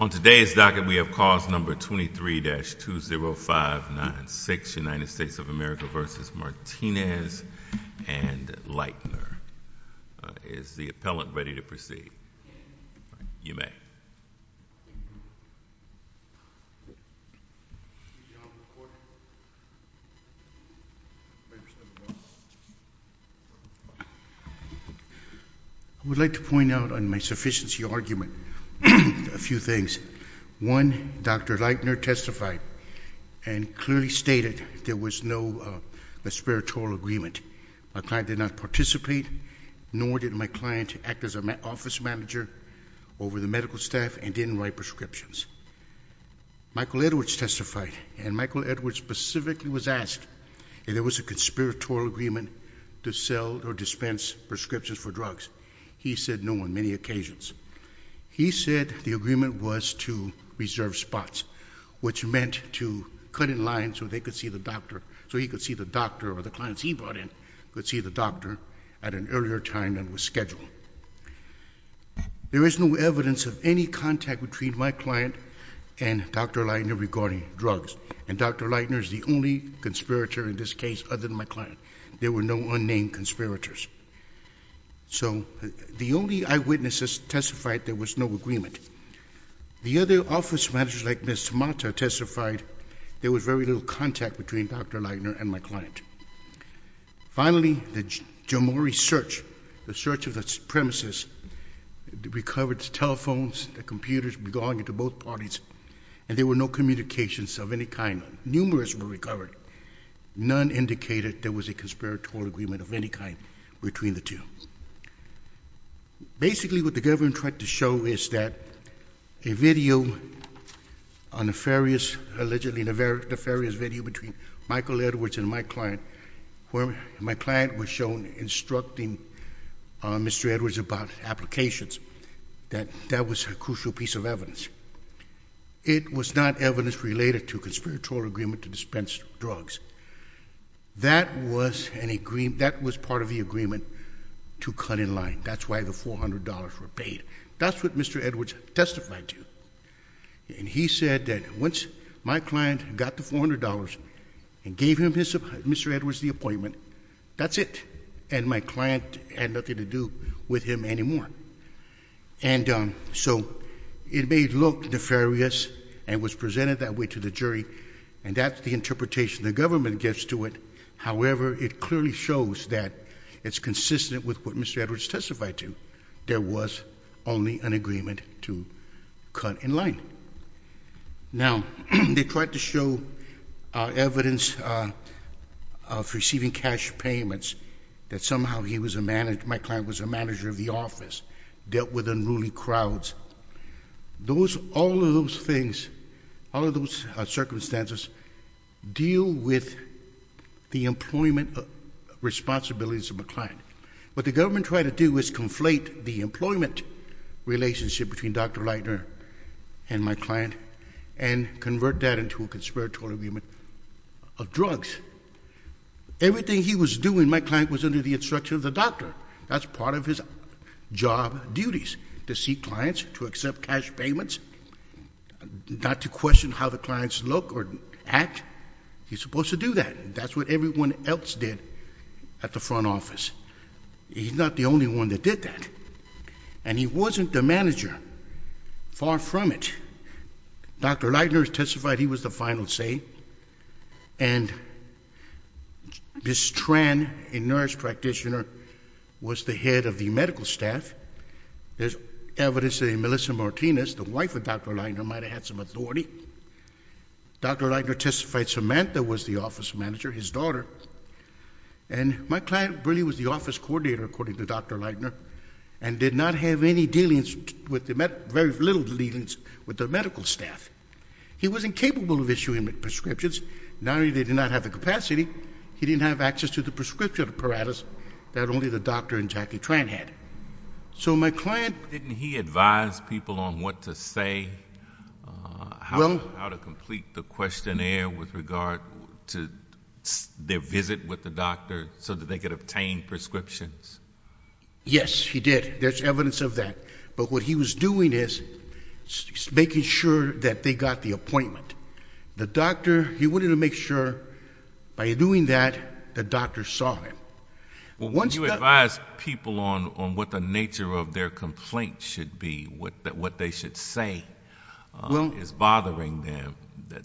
On today's docket, we have cause number 23-20596, United States of America v. Martinez and Lightner. Is the appellant ready to proceed? You may. I would like to point out on my sufficiency argument a few things. One, Dr. Lightner testified and clearly stated there was no espiritual agreement. My client did not participate, nor did my client act as an office manager over the medical staff and didn't write prescriptions. Michael Edwards testified, and Michael Edwards specifically was asked if there was a conspiratorial agreement to sell or dispense prescriptions for drugs. He said no on many occasions. He said the agreement was to reserve spots, which meant to cut in line so he could see the doctor or the clients he brought in could see the doctor at an earlier time than was scheduled. There is no evidence of any contact between my client and Dr. Lightner regarding drugs. And Dr. Lightner is the only conspirator in this case other than my client. There were no unnamed conspirators. So the only eyewitnesses testified there was no agreement. The other office managers like Ms. Tamata testified there was very little contact between Dr. Lightner and my client. Finally, the Jomori search, the search of the premises, recovered telephones, computers belonging to both parties, and there were no communications of any kind. Numerous were recovered. None indicated there was a conspiratorial agreement of any kind between the two. Basically, what the government tried to show is that a video, a nefarious, allegedly nefarious video between Michael Edwards and my client, where my client was shown instructing Mr. Edwards about applications, that that was a crucial piece of evidence. It was not evidence related to a conspiratorial agreement to dispense drugs. That was part of the agreement to cut in line. That's why the $400 were paid. That's what Mr. Edwards testified to. And he said that once my client got the $400 and gave Mr. Edwards the appointment, that's it. And my client had nothing to do with him anymore. And so it may look nefarious and was presented that way to the jury, and that's the interpretation the government gives to it. However, it clearly shows that it's consistent with what Mr. Edwards testified to. There was only an agreement to cut in line. Now, they tried to show evidence of receiving cash payments that somehow he was a manager, my client was a manager of the office, dealt with unruly crowds. Those, all of those things, all of those circumstances deal with the employment responsibilities of a client. What the government tried to do was conflate the employment relationship between Dr. Leitner and my client and convert that into a conspiratorial agreement of drugs. Everything he was doing, my client was under the instruction of the doctor. That's part of his job duties, to see clients, to accept cash payments, not to question how the clients look or act. He's supposed to do that. That's what everyone else did at the front office. He's not the only one that did that. And he wasn't the manager. Far from it. Dr. Leitner testified he was the final say. And Ms. Tran, a nurse practitioner, was the head of the medical staff. There's evidence that Melissa Martinez, the wife of Dr. Leitner, might have had some authority. Dr. Leitner testified Samantha was the office manager, his daughter. And my client really was the office coordinator, according to Dr. Leitner, and did not have any dealings, very little dealings, with the medical staff. He wasn't capable of issuing prescriptions. Not only did he not have the capacity, he didn't have access to the prescription apparatus that only the doctor and Jackie Tran had. So my client ---- Didn't he advise people on what to say, how to complete the questionnaire with regard to their visit with the doctor, so that they could obtain prescriptions? Yes, he did. There's evidence of that. But what he was doing is making sure that they got the appointment. The doctor, he wanted to make sure, by doing that, the doctor saw him. Well, when you advise people on what the nature of their complaint should be, what they should say is bothering them,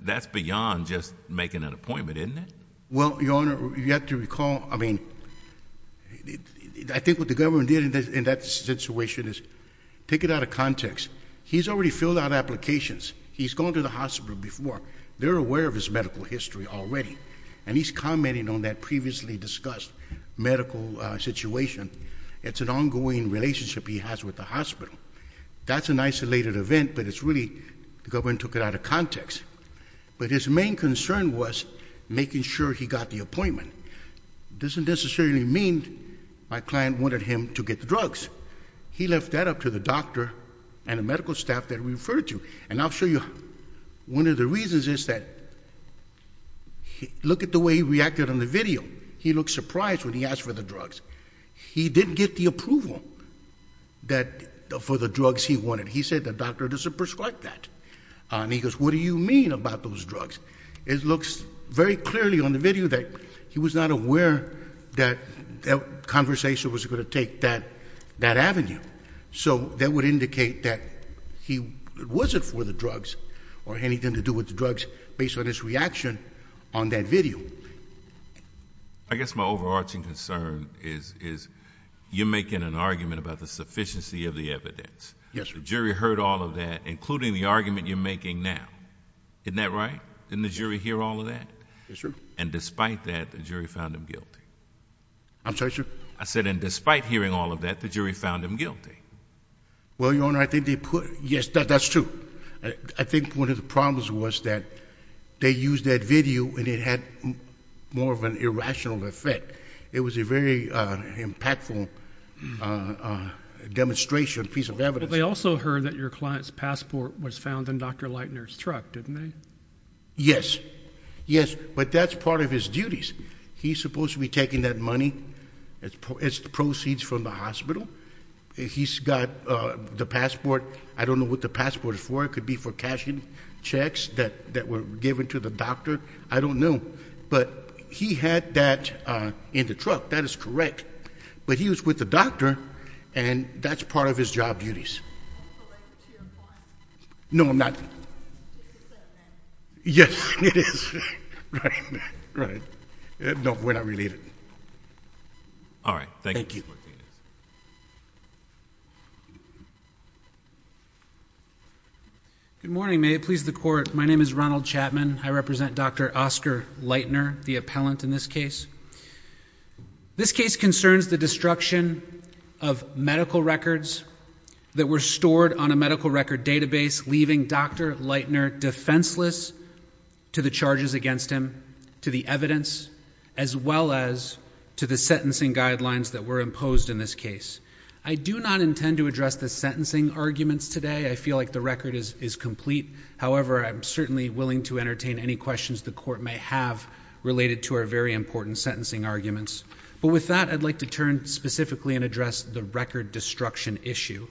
that's beyond just making an appointment, isn't it? Well, Your Honor, you have to recall, I mean, I think what the government did in that situation is take it out of context. He's already filled out applications. He's gone to the hospital before. They're aware of his medical history already. And he's commenting on that previously discussed medical situation. It's an ongoing relationship he has with the hospital. That's an isolated event, but it's really the government took it out of context. But his main concern was making sure he got the appointment. It doesn't necessarily mean my client wanted him to get the drugs. He left that up to the doctor and the medical staff that he referred to. And I'll show you one of the reasons is that look at the way he reacted on the video. He looked surprised when he asked for the drugs. He didn't get the approval for the drugs he wanted. He said the doctor doesn't prescribe that. And he goes, what do you mean about those drugs? It looks very clearly on the video that he was not aware that that conversation was going to take that avenue. So that would indicate that it wasn't for the drugs or anything to do with the drugs based on his reaction on that video. I guess my overarching concern is you're making an argument about the sufficiency of the evidence. Yes, sir. The jury heard all of that, including the argument you're making now. Isn't that right? Didn't the jury hear all of that? Yes, sir. And despite that, the jury found him guilty. I'm sorry, sir? I said, and despite hearing all of that, the jury found him guilty. Well, Your Honor, I think they put yes, that's true. I think one of the problems was that they used that video and it had more of an irrational effect. It was a very impactful demonstration, piece of evidence. Well, they also heard that your client's passport was found in Dr. Leitner's truck, didn't they? Yes. Yes, but that's part of his duties. He's supposed to be taking that money as proceeds from the hospital. He's got the passport. I don't know what the passport is for. It could be for cashing checks that were given to the doctor. I don't know. But he had that in the truck. That is correct. But he was with the doctor, and that's part of his job duties. That's related to your client. No, I'm not. It is, then. Yes, it is. No, we're not related. All right. Thank you. Good morning. May it please the Court. My name is Ronald Chapman. I represent Dr. Oscar Leitner, the appellant in this case. This case concerns the destruction of medical records that were stored on a medical record database, leaving Dr. Leitner defenseless to the charges against him, to the evidence, as well as to the sentencing guidelines that were imposed in this case. I do not intend to address the sentencing arguments today. I feel like the record is complete. However, I'm certainly willing to entertain any questions the Court may have related to our very important sentencing arguments. But with that, I'd like to turn specifically and address the record destruction issue.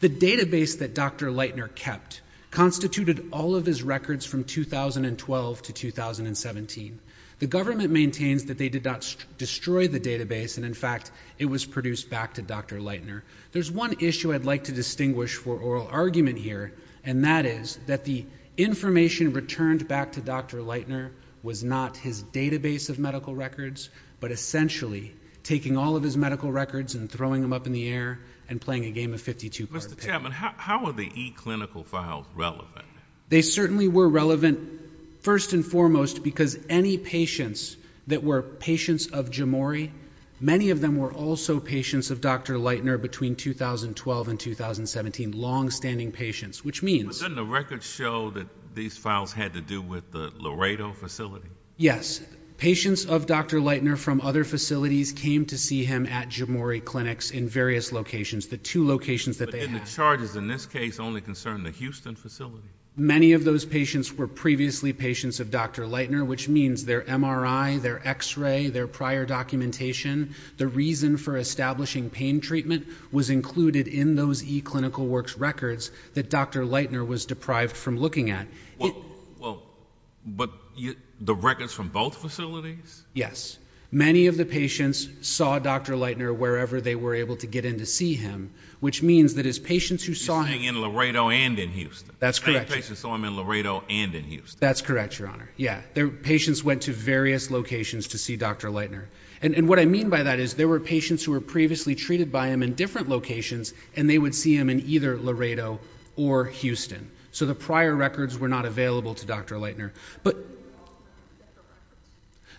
The database that Dr. Leitner kept constituted all of his records from 2012 to 2017. The government maintains that they did not destroy the database, and, in fact, it was produced back to Dr. Leitner. There's one issue I'd like to distinguish for oral argument here, and that is that the information returned back to Dr. Leitner was not his database of medical records, but essentially taking all of his medical records and throwing them up in the air and playing a game of 52-part pick. Mr. Chapman, how are the e-clinical files relevant? They certainly were relevant, first and foremost, because any patients that were patients of Jomori, many of them were also patients of Dr. Leitner between 2012 and 2017, longstanding patients, which means— But doesn't the record show that these files had to do with the Laredo facility? Yes. Patients of Dr. Leitner from other facilities came to see him at Jomori clinics in various locations, the two locations that they had. But didn't the charges in this case only concern the Houston facility? Many of those patients were previously patients of Dr. Leitner, which means their MRI, their X-ray, their prior documentation, the reason for establishing pain treatment was included in those e-clinical works records that Dr. Leitner was deprived from looking at. Well, but the records from both facilities? Many of the patients saw Dr. Leitner wherever they were able to get in to see him, which means that as patients who saw him— You're saying in Laredo and in Houston. That's correct. Many patients saw him in Laredo and in Houston. That's correct, Your Honor. Yeah. Patients went to various locations to see Dr. Leitner. And what I mean by that is there were patients who were previously treated by him in different locations, and they would see him in either Laredo or Houston. So the prior records were not available to Dr. Leitner. But—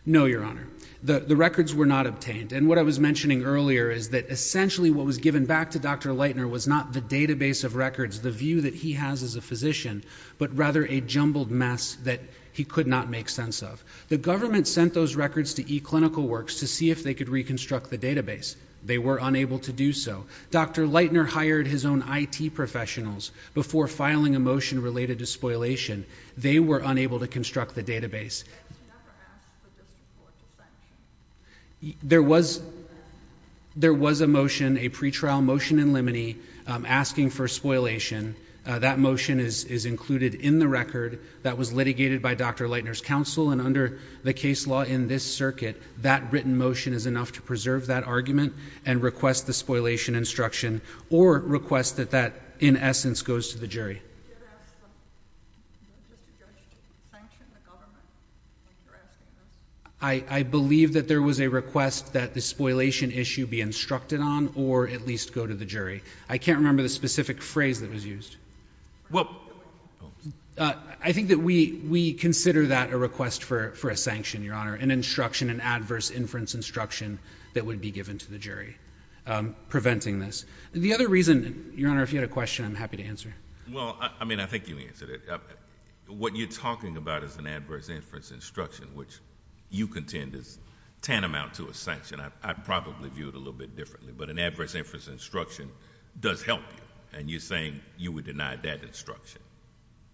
No, Your Honor. The records were not obtained. And what I was mentioning earlier is that essentially what was given back to Dr. Leitner was not the database of records, the view that he has as a physician, but rather a jumbled mess that he could not make sense of. The government sent those records to e-clinical works to see if they could reconstruct the database. They were unable to do so. Dr. Leitner hired his own IT professionals before filing a motion related to spoilation. They were unable to construct the database. There was a motion, a pretrial motion in limine, asking for spoilation. That motion is included in the record that was litigated by Dr. Leitner's counsel, and under the case law in this circuit, that written motion is enough to preserve that argument and request the spoilation instruction or request that that, in essence, goes to the jury. I believe that there was a request that the spoilation issue be instructed on or at least go to the jury. I can't remember the specific phrase that was used. Well, I think that we consider that a request for a sanction, Your Honor, an instruction, an adverse inference instruction that would be given to the jury preventing this. The other reason, Your Honor, if you had a question, I'm happy to answer. Well, I mean, I think you answered it. What you're talking about is an adverse inference instruction, which you contend is tantamount to a sanction. I probably view it a little bit differently, but an adverse inference instruction does help you, and you're saying you would deny that instruction.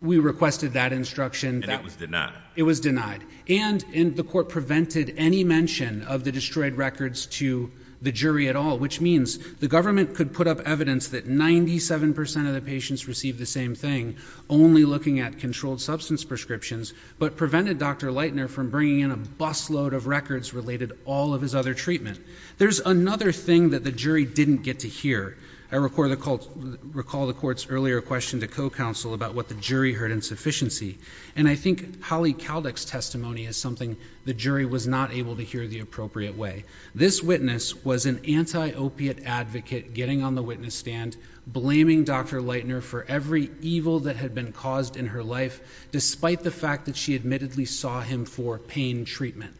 We requested that instruction. And it was denied. It was denied. And the court prevented any mention of the destroyed records to the jury at all, which means the government could put up evidence that 97 percent of the patients received the same thing, only looking at controlled substance prescriptions, but prevented Dr. Leitner from bringing in a busload of records related to all of his other treatment. There's another thing that the jury didn't get to hear. I recall the court's earlier question to co-counsel about what the jury heard in sufficiency, and I think Holly Kaldek's testimony is something the jury was not able to hear the appropriate way. This witness was an anti-opiate advocate getting on the witness stand, blaming Dr. Leitner for every evil that had been caused in her life, despite the fact that she admittedly saw him for pain treatment.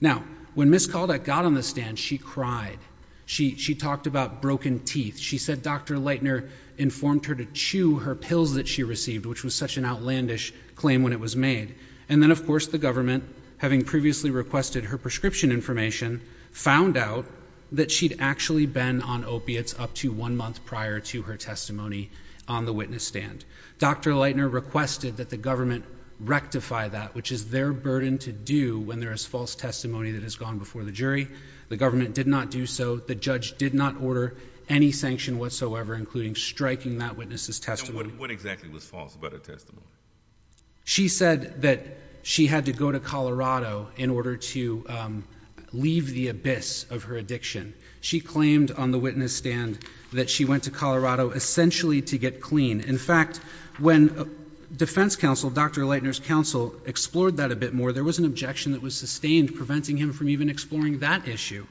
Now, when Ms. Kaldek got on the stand, she cried. She talked about broken teeth. She said Dr. Leitner informed her to chew her pills that she received, which was such an outlandish claim when it was made. And then, of course, the government, having previously requested her prescription information, found out that she'd actually been on opiates up to one month prior to her testimony on the witness stand. Dr. Leitner requested that the government rectify that, which is their burden to do when there is false testimony that has gone before the jury. The government did not do so. The judge did not order any sanction whatsoever, including striking that witness's testimony. And what exactly was false about her testimony? She said that she had to go to Colorado in order to leave the abyss of her addiction. She claimed on the witness stand that she went to Colorado essentially to get clean. In fact, when defense counsel, Dr. Leitner's counsel, explored that a bit more, there was an objection that was sustained preventing him from even exploring that issue.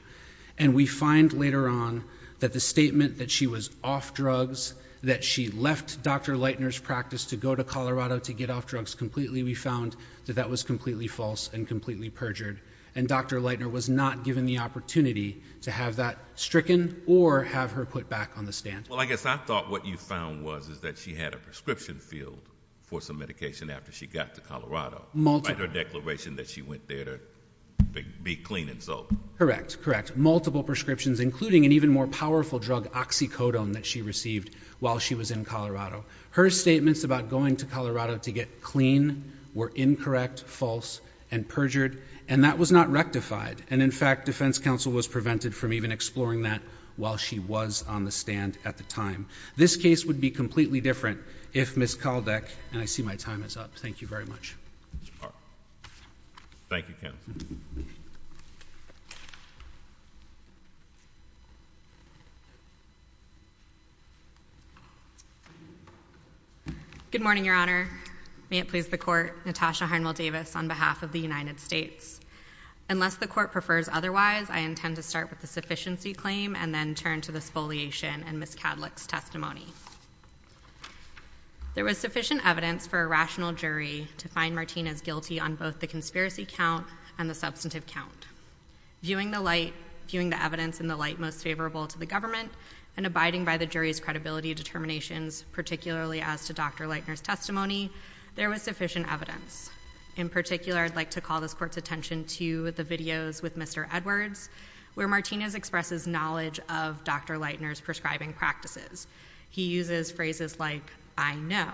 And we find later on that the statement that she was off drugs, that she left Dr. Leitner's practice to go to Colorado to get off drugs completely, we found that that was completely false and completely perjured. And Dr. Leitner was not given the opportunity to have that stricken or have her put back on the stand. Well, I guess I thought what you found was that she had a prescription field for some medication after she got to Colorado. By her declaration that she went there to be clean and soap. Correct, correct. Multiple prescriptions, including an even more powerful drug, oxycodone, that she received while she was in Colorado. Her statements about going to Colorado to get clean were incorrect, false, and perjured. And that was not rectified. And in fact, defense counsel was prevented from even exploring that while she was on the stand at the time. This case would be completely different if Ms. Caldeck, and I see my time is up. Thank you very much. Ms. Park. Thank you, counsel. Good morning, Your Honor. May it please the Court, Natasha Harnwell Davis on behalf of the United States. Unless the Court prefers otherwise, I intend to start with the sufficiency claim and then turn to the spoliation in Ms. Caldeck's testimony. There was sufficient evidence for a rational jury to find Martinez guilty on both the conspiracy count and the substantive count. Viewing the evidence in the light most favorable to the government, and abiding by the jury's credibility determinations, particularly as to Dr. Leitner's testimony, there was sufficient evidence. In particular, I'd like to call this Court's attention to the videos with Mr. Edwards, where Martinez expresses knowledge of Dr. Leitner's prescribing practices. He uses phrases like, I know.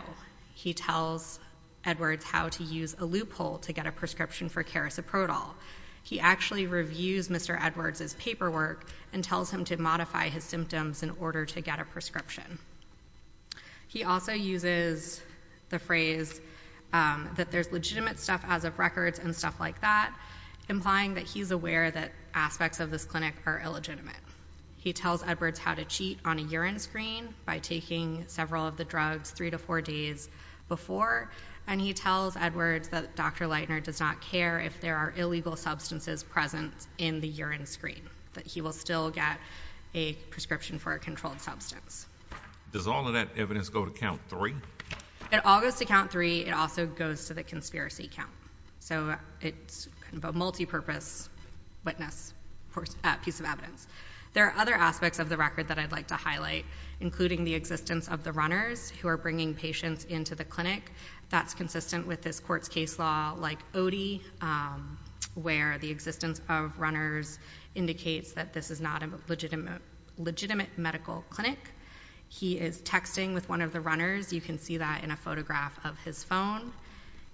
He tells Edwards how to use a loophole to get a prescription for carisoprodol. He actually reviews Mr. Edwards' paperwork and tells him to modify his symptoms in order to get a prescription. He also uses the phrase that there's legitimate stuff as of records and stuff like that, implying that he's aware that aspects of this clinic are illegitimate. He tells Edwards how to cheat on a urine screen by taking several of the drugs three to four days before, and he tells Edwards that Dr. Leitner does not care if there are illegal substances present in the urine screen, that he will still get a prescription for a controlled substance. Does all of that evidence go to count three? It all goes to count three. It also goes to the conspiracy count, so it's kind of a multipurpose witness piece of evidence. There are other aspects of the record that I'd like to highlight, including the existence of the runners who are bringing patients into the clinic. That's consistent with this court's case law like ODI, where the existence of runners indicates that this is not a legitimate medical clinic. He is texting with one of the runners. You can see that in a photograph of his phone.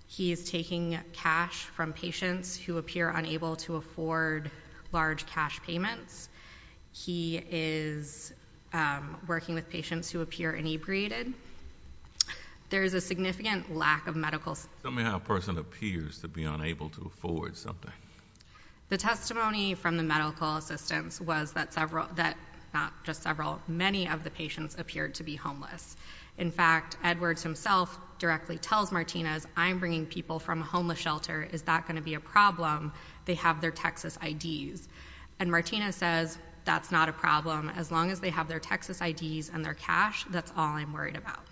He is taking cash from patients who appear unable to afford large cash payments. He is working with patients who appear inebriated. There is a significant lack of medical assistance. Tell me how a person appears to be unable to afford something. The testimony from the medical assistants was that not just several, many of the patients appeared to be homeless. In fact, Edwards himself directly tells Martinez, I'm bringing people from a homeless shelter. Is that going to be a problem? They have their Texas IDs. And Martina says, that's not a problem. As long as they have their Texas IDs and their cash, that's all I'm worried about.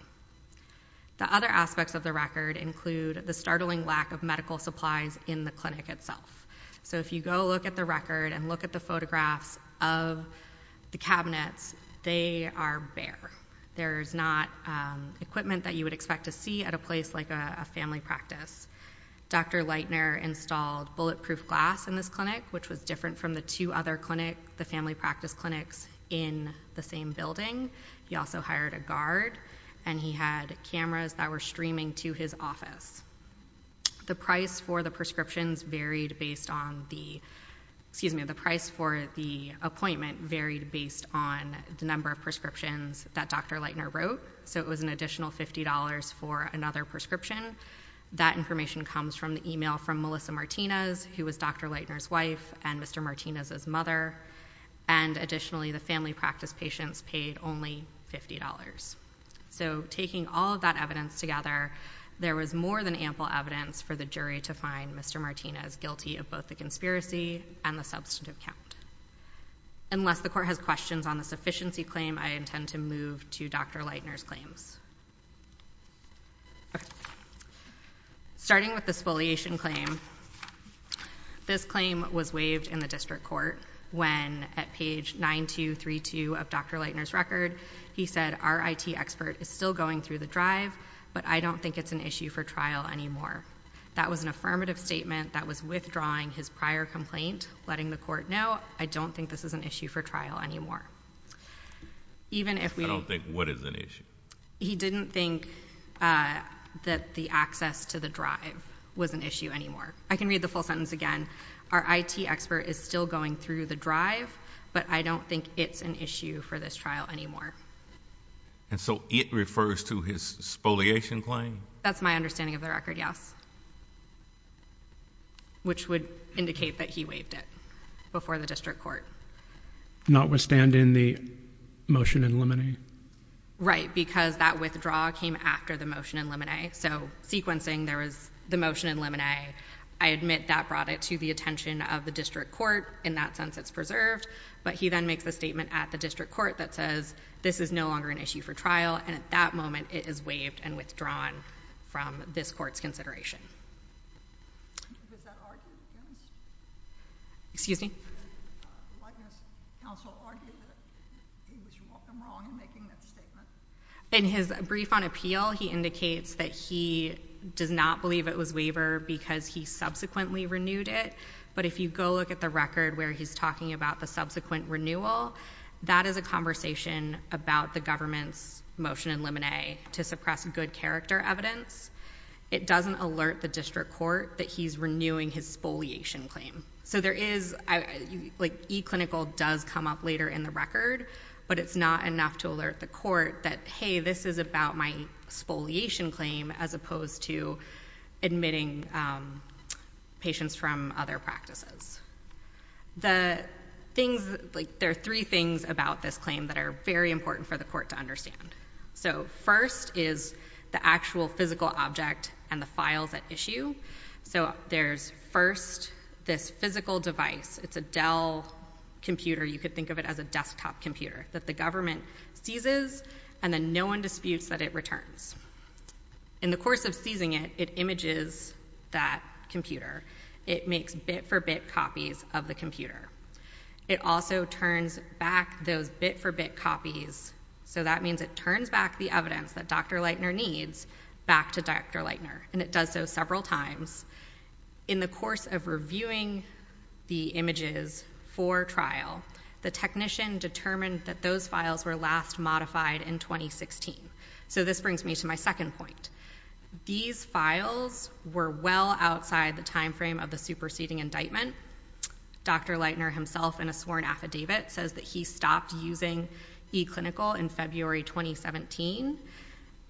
The other aspects of the record include the startling lack of medical supplies in the clinic itself. So if you go look at the record and look at the photographs of the cabinets, they are bare. There is not equipment that you would expect to see at a place like a family practice. Dr. Leitner installed bulletproof glass in this clinic, which was different from the two other clinic, the family practice clinics in the same building. He also hired a guard and he had cameras that were streaming to his office. The price for the prescriptions varied based on the, excuse me, the price for the appointment varied based on the number of prescriptions that Dr. Leitner wrote. So it was an additional $50 for another prescription. That information comes from the email from Melissa Martinez, who was Dr. Leitner's wife and Mr. Martinez's mother. And additionally, the family practice patients paid only $50. So taking all of that evidence together, there was more than ample evidence for the jury to find Mr. Martinez guilty of both the conspiracy and the substantive count. Unless the court has questions on the sufficiency claim, I intend to move to Dr. Leitner's claims. Starting with the spoliation claim, this claim was waived in the district court when at page 9232 of Dr. Leitner's record, he said, our IT expert is still going through the drive, but I don't think it's an issue for trial anymore. That was an affirmative statement that was withdrawing his prior complaint, letting the court know, I don't think this is an issue for trial anymore. Even if we... I don't think what is an issue. He didn't think that the access to the drive was an issue anymore. I can read the full sentence again. Our IT expert is still going through the drive, but I don't think it's an issue for this trial anymore. And so it refers to his spoliation claim? That's my understanding of the record, yes, which would indicate that he waived it before the district court. Notwithstanding the motion in limine? Right, because that withdrawal came after the motion in limine. So sequencing, there was the motion in limine. I admit that brought it to the attention of the district court. In that sense, it's preserved. But he then makes a statement at the district court that says, this is no longer an issue for trial. And at that moment, it is waived and withdrawn from this court's consideration. Was that argued against? Excuse me? The witness counsel argued that he was wrong in making that statement. In his brief on appeal, he indicates that he does not believe it was waivered because he subsequently renewed it. But if you go look at the record where he's talking about the subsequent renewal, that is a conversation about the government's motion in limine to suppress good character evidence. It doesn't alert the district court that he's renewing his spoliation claim. So there is, like eClinical does come up later in the record, but it's not enough to alert the court that, hey, this is about my spoliation claim as opposed to admitting patients from other practices. The things, like there are three things about this claim that are very important for the court to understand. So first is the actual physical object and the files at issue. So there's first this physical device. It's a Dell computer. You could think of it as a desktop computer that the government seizes and then no one disputes that it returns. In the course of seizing it, it images that computer. It makes bit-for-bit copies of the computer. It also turns back those bit-for-bit copies. So that means it turns back the evidence that Dr. Leitner needs back to Dr. Leitner, and it does so several times. In the course of reviewing the images for trial, the technician determined that those files were last modified in 2016. So this brings me to my second point. These files were well outside the time frame of the superseding indictment. Dr. Leitner himself in a sworn affidavit says that he stopped using eClinical in February 2017,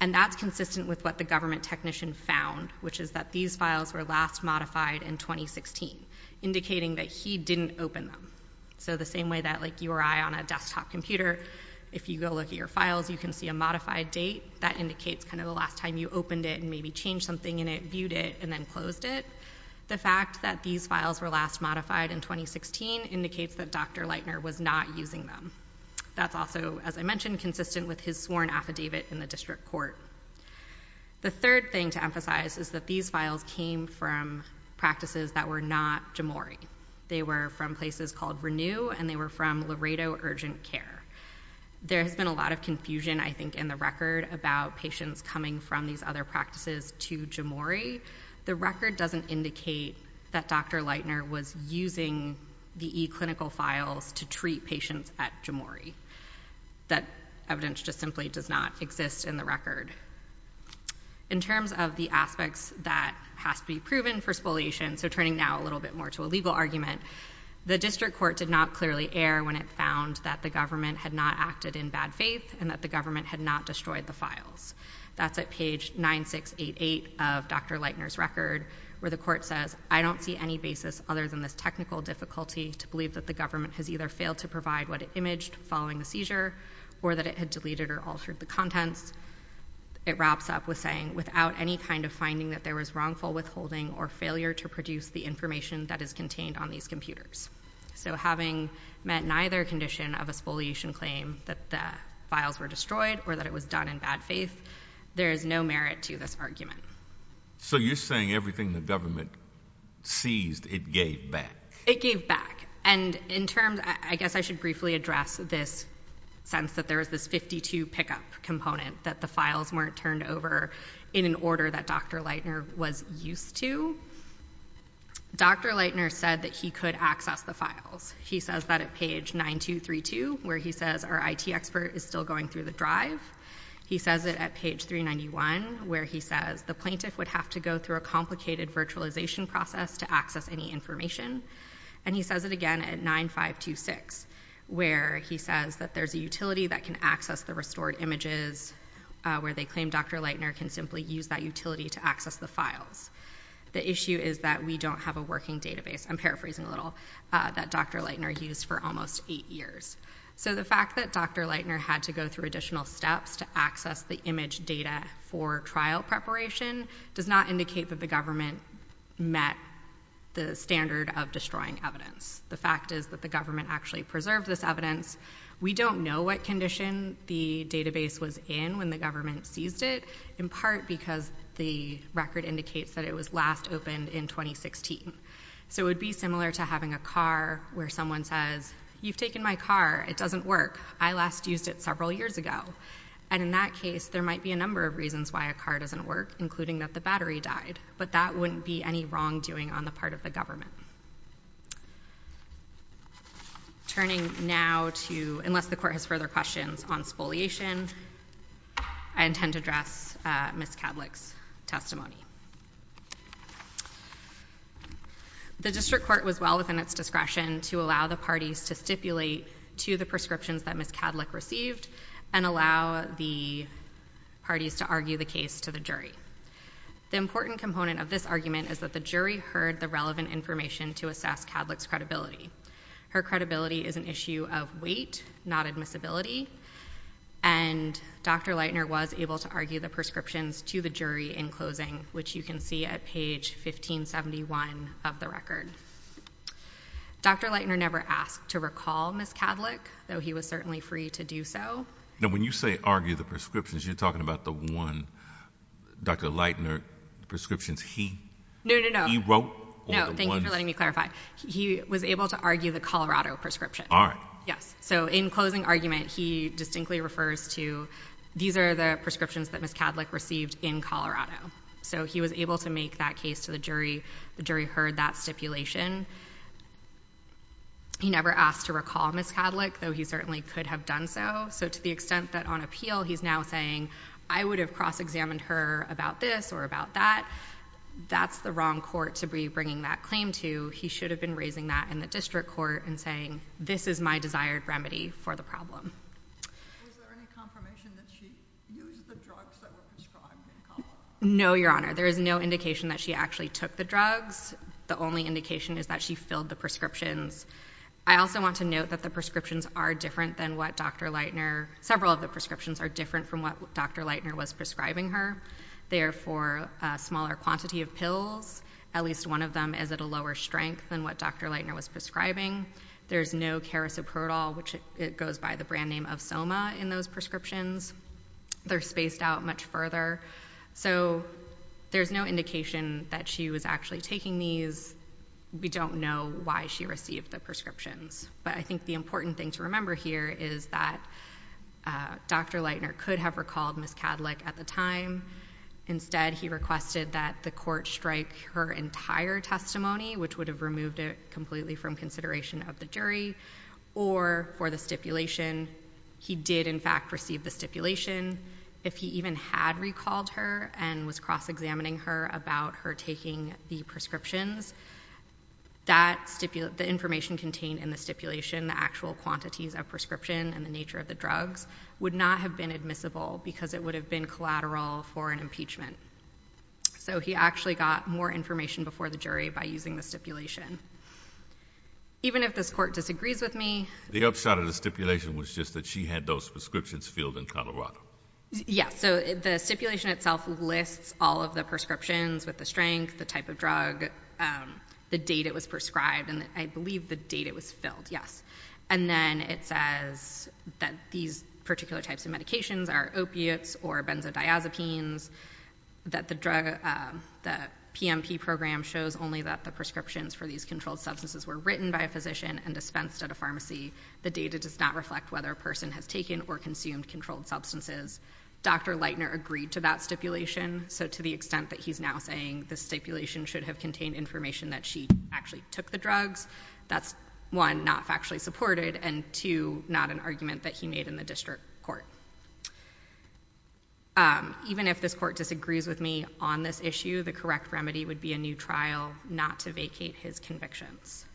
and that's consistent with what the government technician found, which is that these files were last modified in 2016, indicating that he didn't open them. So the same way that you or I on a desktop computer, if you go look at your files, you can see a modified date. That indicates kind of the last time you opened it and maybe changed something in it, viewed it, and then closed it. The fact that these files were last modified in 2016 indicates that Dr. Leitner was not using them. That's also, as I mentioned, consistent with his sworn affidavit in the district court. The third thing to emphasize is that these files came from practices that were not Jomori. They were from places called Renew, and they were from Laredo Urgent Care. There has been a lot of confusion, I think, in the record about patients coming from these other practices to Jomori. The record doesn't indicate that Dr. Leitner was using the e-clinical files to treat patients at Jomori. That evidence just simply does not exist in the record. In terms of the aspects that has to be proven for spoliation, so turning now a little bit more to a legal argument, the district court did not clearly err when it found that the government had not acted in bad faith and that the government had not destroyed the files. That's at page 9688 of Dr. Leitner's record where the court says, I don't see any basis other than this technical difficulty to believe that the government has either failed to provide what it imaged following the seizure or that it had deleted or altered the contents. It wraps up with saying, without any kind of finding that there was wrongful withholding or failure to produce the information that is contained on these computers. So having met neither condition of a spoliation claim that the files were destroyed or that it was done in bad faith, there is no merit to this argument. So you're saying everything the government seized, it gave back. It gave back. And in terms, I guess I should briefly address this sense that there was this 52 pickup component that the files weren't turned over in an order that Dr. Leitner was used to. Dr. Leitner said that he could access the files. He says that at page 9232 where he says, our IT expert is still going through the drive. He says it at page 391 where he says, the plaintiff would have to go through a complicated virtualization process to access any information. And he says it again at 9526 where he says that there's a utility that can access the restored images where they claim Dr. Leitner can simply use that utility to access the files. The issue is that we don't have a working database. I'm paraphrasing a little, that Dr. Leitner used for almost eight years. So the fact that Dr. Leitner had to go through additional steps to access the image data for trial preparation does not indicate that the government met the standard of destroying evidence. The fact is that the government actually preserved this evidence. We don't know what condition the database was in when the government seized it, in part because the record indicates that it was last opened in 2016. So it would be similar to having a car where someone says, you've taken my car, it doesn't work. I last used it several years ago. And in that case, there might be a number of reasons why a car doesn't work, including that the battery died. But that wouldn't be any wrongdoing on the part of the government. Turning now to, unless the court has further questions on spoliation, I intend to address Ms. Kadlik's testimony. The district court was well within its discretion to allow the parties to stipulate to the prescriptions that Ms. Kadlik received and allow the parties to argue the case to the jury. The important component of this argument is that the jury heard the relevant information to assess Kadlik's credibility. Her credibility is an issue of weight, not admissibility, and Dr. Leitner was able to argue the prescriptions to the jury in closing, which you can see at page 1571 of the record. Dr. Leitner never asked to recall Ms. Kadlik, though he was certainly free to do so. Now, when you say argue the prescriptions, you're talking about the one Dr. Leitner prescriptions he wrote? Thank you for letting me clarify. He was able to argue the Colorado prescription. All right. Yes. So in closing argument, he distinctly refers to, these are the prescriptions that Ms. Kadlik received in Colorado. So he was able to make that case to the jury. The jury heard that stipulation. He never asked to recall Ms. Kadlik, though he certainly could have done so. So to the extent that on appeal he's now saying, I would have cross-examined her about this or about that, that's the wrong court to be bringing that claim to. He should have been raising that in the district court and saying, this is my desired remedy for the problem. Was there any confirmation that she used the drugs that were prescribed in Colorado? No, Your Honor. There is no indication that she actually took the drugs. The only indication is that she filled the prescriptions. I also want to note that the prescriptions are different than what Dr. Leitner, several of the prescriptions are different from what Dr. Leitner was prescribing her. Therefore, a smaller quantity of pills, at least one of them is at a lower strength than what Dr. Leitner was prescribing. There's no carisoprodol, which goes by the brand name of Soma, in those prescriptions. They're spaced out much further. So there's no indication that she was actually taking these. We don't know why she received the prescriptions. But I think the important thing to remember here is that Dr. Leitner could have recalled Ms. Kadlik at the time. Instead, he requested that the court strike her entire testimony, which would have removed it completely from consideration of the jury, or for the stipulation, he did in fact receive the stipulation. If he even had recalled her and was cross-examining her about her taking the prescriptions, the information contained in the stipulation, the actual quantities of prescription and the nature of the drugs, would not have been admissible because it would have been collateral for an impeachment. So he actually got more information before the jury by using the stipulation. Even if this court disagrees with me... The upshot of the stipulation was just that she had those prescriptions filled in Colorado. Yes. So the stipulation itself lists all of the prescriptions, with the strength, the type of drug, the date it was prescribed, and I believe the date it was filled, yes. And then it says that these particular types of medications are opiates or benzodiazepines, that the PMP program shows only that the prescriptions for these controlled substances were written by a physician and dispensed at a pharmacy. The data does not reflect whether a person has taken or consumed controlled substances. Dr. Leitner agreed to that stipulation, so to the extent that he's now saying the stipulation should have contained information that she actually took the drugs, that's, one, not factually supported, and two, not an argument that he made in the district court. Even if this court disagrees with me on this issue, the correct remedy would be a new trial, not to vacate his convictions.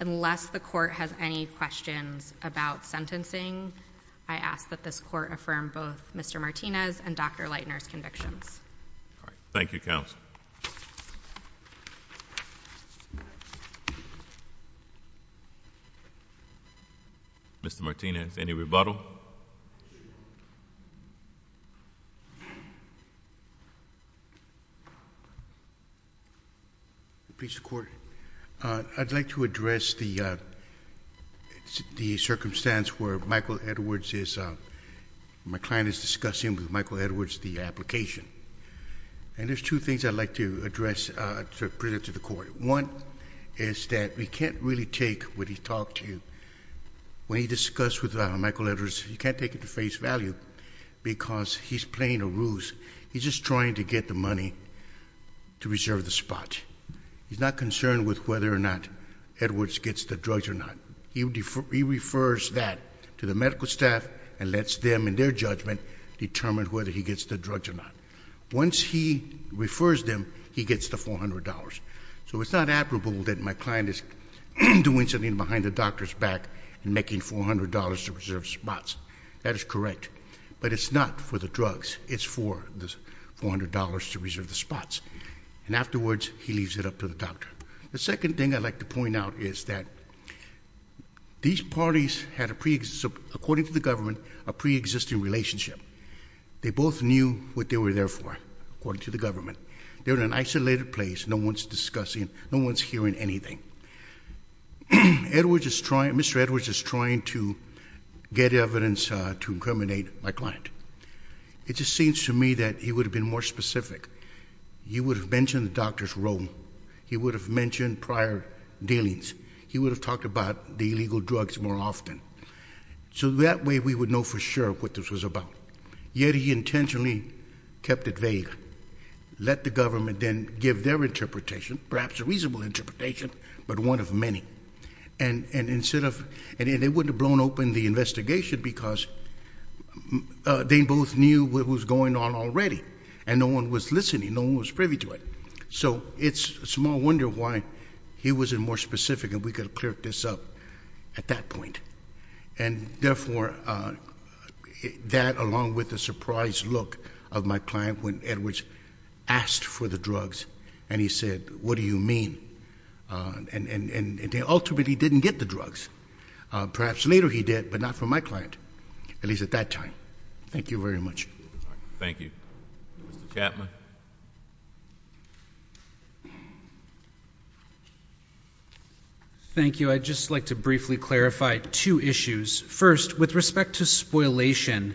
Unless the court has any questions about sentencing, I ask that this court affirm both Mr. Martinez and Dr. Leitner's convictions. Thank you, counsel. Mr. Martinez, any rebuttal? Please, Your Court. I'd like to address the circumstance where my client is discussing with Michael Edwards the application. And there's two things I'd like to address to bring it to the Court. One is that we can't really take what he talked to you. When he discussed with Michael Edwards, he can't take it to face value because he's playing a ruse. He's just trying to get the money to reserve the spot. He's not concerned with whether or not Edwards gets the drugs or not. He refers that to the medical staff and lets them, in their judgment, determine whether he gets the drugs or not. Once he refers them, he gets the $400. So it's not admirable that my client is doing something behind the doctor's back and making $400 to reserve spots. That is correct. But it's not for the drugs. It's for the $400 to reserve the spots. And afterwards, he leaves it up to the doctor. The second thing I'd like to point out is that these parties had, according to the government, a pre-existing relationship. They both knew what they were there for, according to the government. They were in an isolated place. No one's discussing, no one's hearing anything. Mr. Edwards is trying to get evidence to incriminate my client. It just seems to me that he would have been more specific. He would have mentioned the doctor's role. He would have mentioned prior dealings. He would have talked about the illegal drugs more often. So that way, we would know for sure what this was about. Yet he intentionally kept it vague. Let the government then give their interpretation, perhaps a reasonable interpretation, but one of many. And they wouldn't have blown open the investigation because they both knew what was going on already. And no one was listening. No one was privy to it. So it's a small wonder why he wasn't more specific, and we could have cleared this up at that point. And therefore, that, along with the surprised look of my client when Edwards asked for the drugs and he said, what do you mean? And ultimately, he didn't get the drugs. Perhaps later he did, but not from my client, at least at that time. Thank you very much. Thank you. Mr. Chapman. Thank you. I'd just like to briefly clarify two issues. First, with respect to spoilation,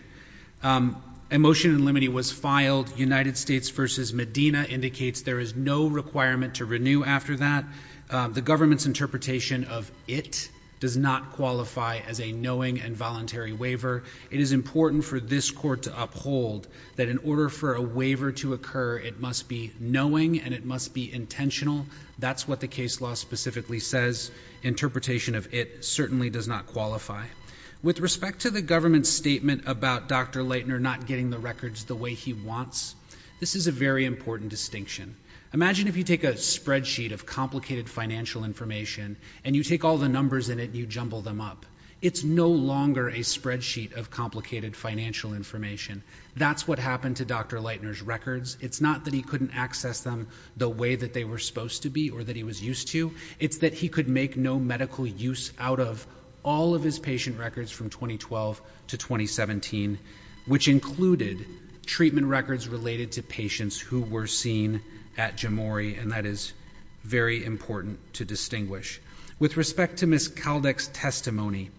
a motion in limine was filed. United States versus Medina indicates there is no requirement to renew after that. The government's interpretation of it does not qualify as a knowing and voluntary waiver. It is important for this court to uphold that in order for a waiver to occur, it must be knowing and it must be intentional. That's what the case law specifically says. Interpretation of it certainly does not qualify. With respect to the government's statement about Dr. Leitner not getting the records the way he wants, this is a very important distinction. Imagine if you take a spreadsheet of complicated financial information and you take all the numbers in it and you jumble them up. It's no longer a spreadsheet of complicated financial information. That's what happened to Dr. Leitner's records. It's not that he couldn't access them the way that they were supposed to be or that he was used to. It's that he could make no medical use out of all of his patient records from 2012 to 2017, which included treatment records related to patients who were seen at Jomori, and that is very important to distinguish. With respect to Ms. Kaldek's testimony,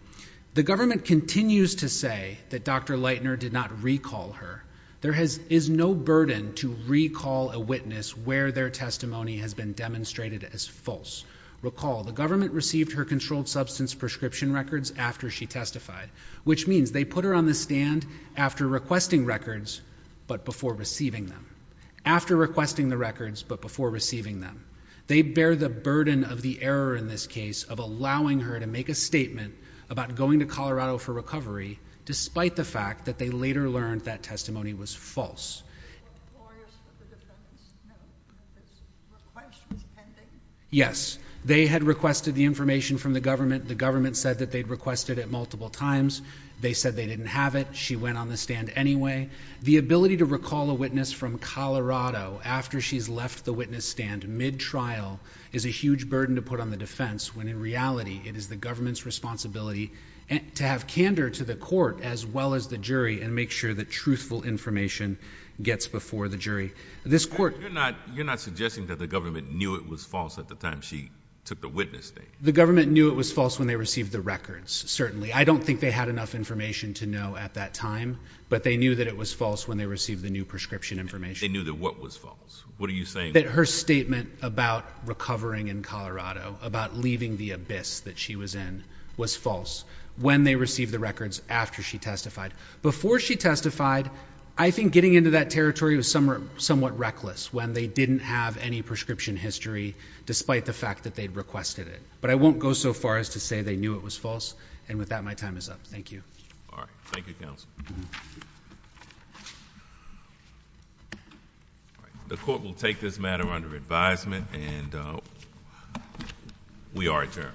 the government continues to say that Dr. Leitner did not recall her. There is no burden to recall a witness where their testimony has been demonstrated as false. Recall, the government received her controlled substance prescription records after she testified, which means they put her on the stand after requesting records, but before receiving them. After requesting the records, but before receiving them. They bear the burden of the error in this case of allowing her to make a statement about going to Colorado for recovery, despite the fact that they later learned that testimony was false. Yes. They had requested the information from the government. The government said that they'd requested it multiple times. They said they didn't have it. She went on the stand anyway. The ability to recall a witness from Colorado after she's left the witness stand mid-trial is a huge burden to put on the defense, when in reality it is the government's responsibility to have candor to the court as well as the jury and make sure that truthful information gets before the jury. This court... You're not suggesting that the government knew it was false at the time she took the witness stand? The government knew it was false when they received the records, certainly. I don't think they had enough information to know at that time, but they knew that it was false when they received the new prescription information. They knew that what was false? What are you saying? That her statement about recovering in Colorado, about leaving the abyss that she was in, was false when they received the records after she testified. Before she testified, I think getting into that territory was somewhat reckless when they didn't have any prescription history despite the fact that they'd requested it. But I won't go so far as to say they knew it was false. And with that, my time is up. Thank you. All right. Thank you, counsel. The court will take this matter under advisement, and we are adjourned.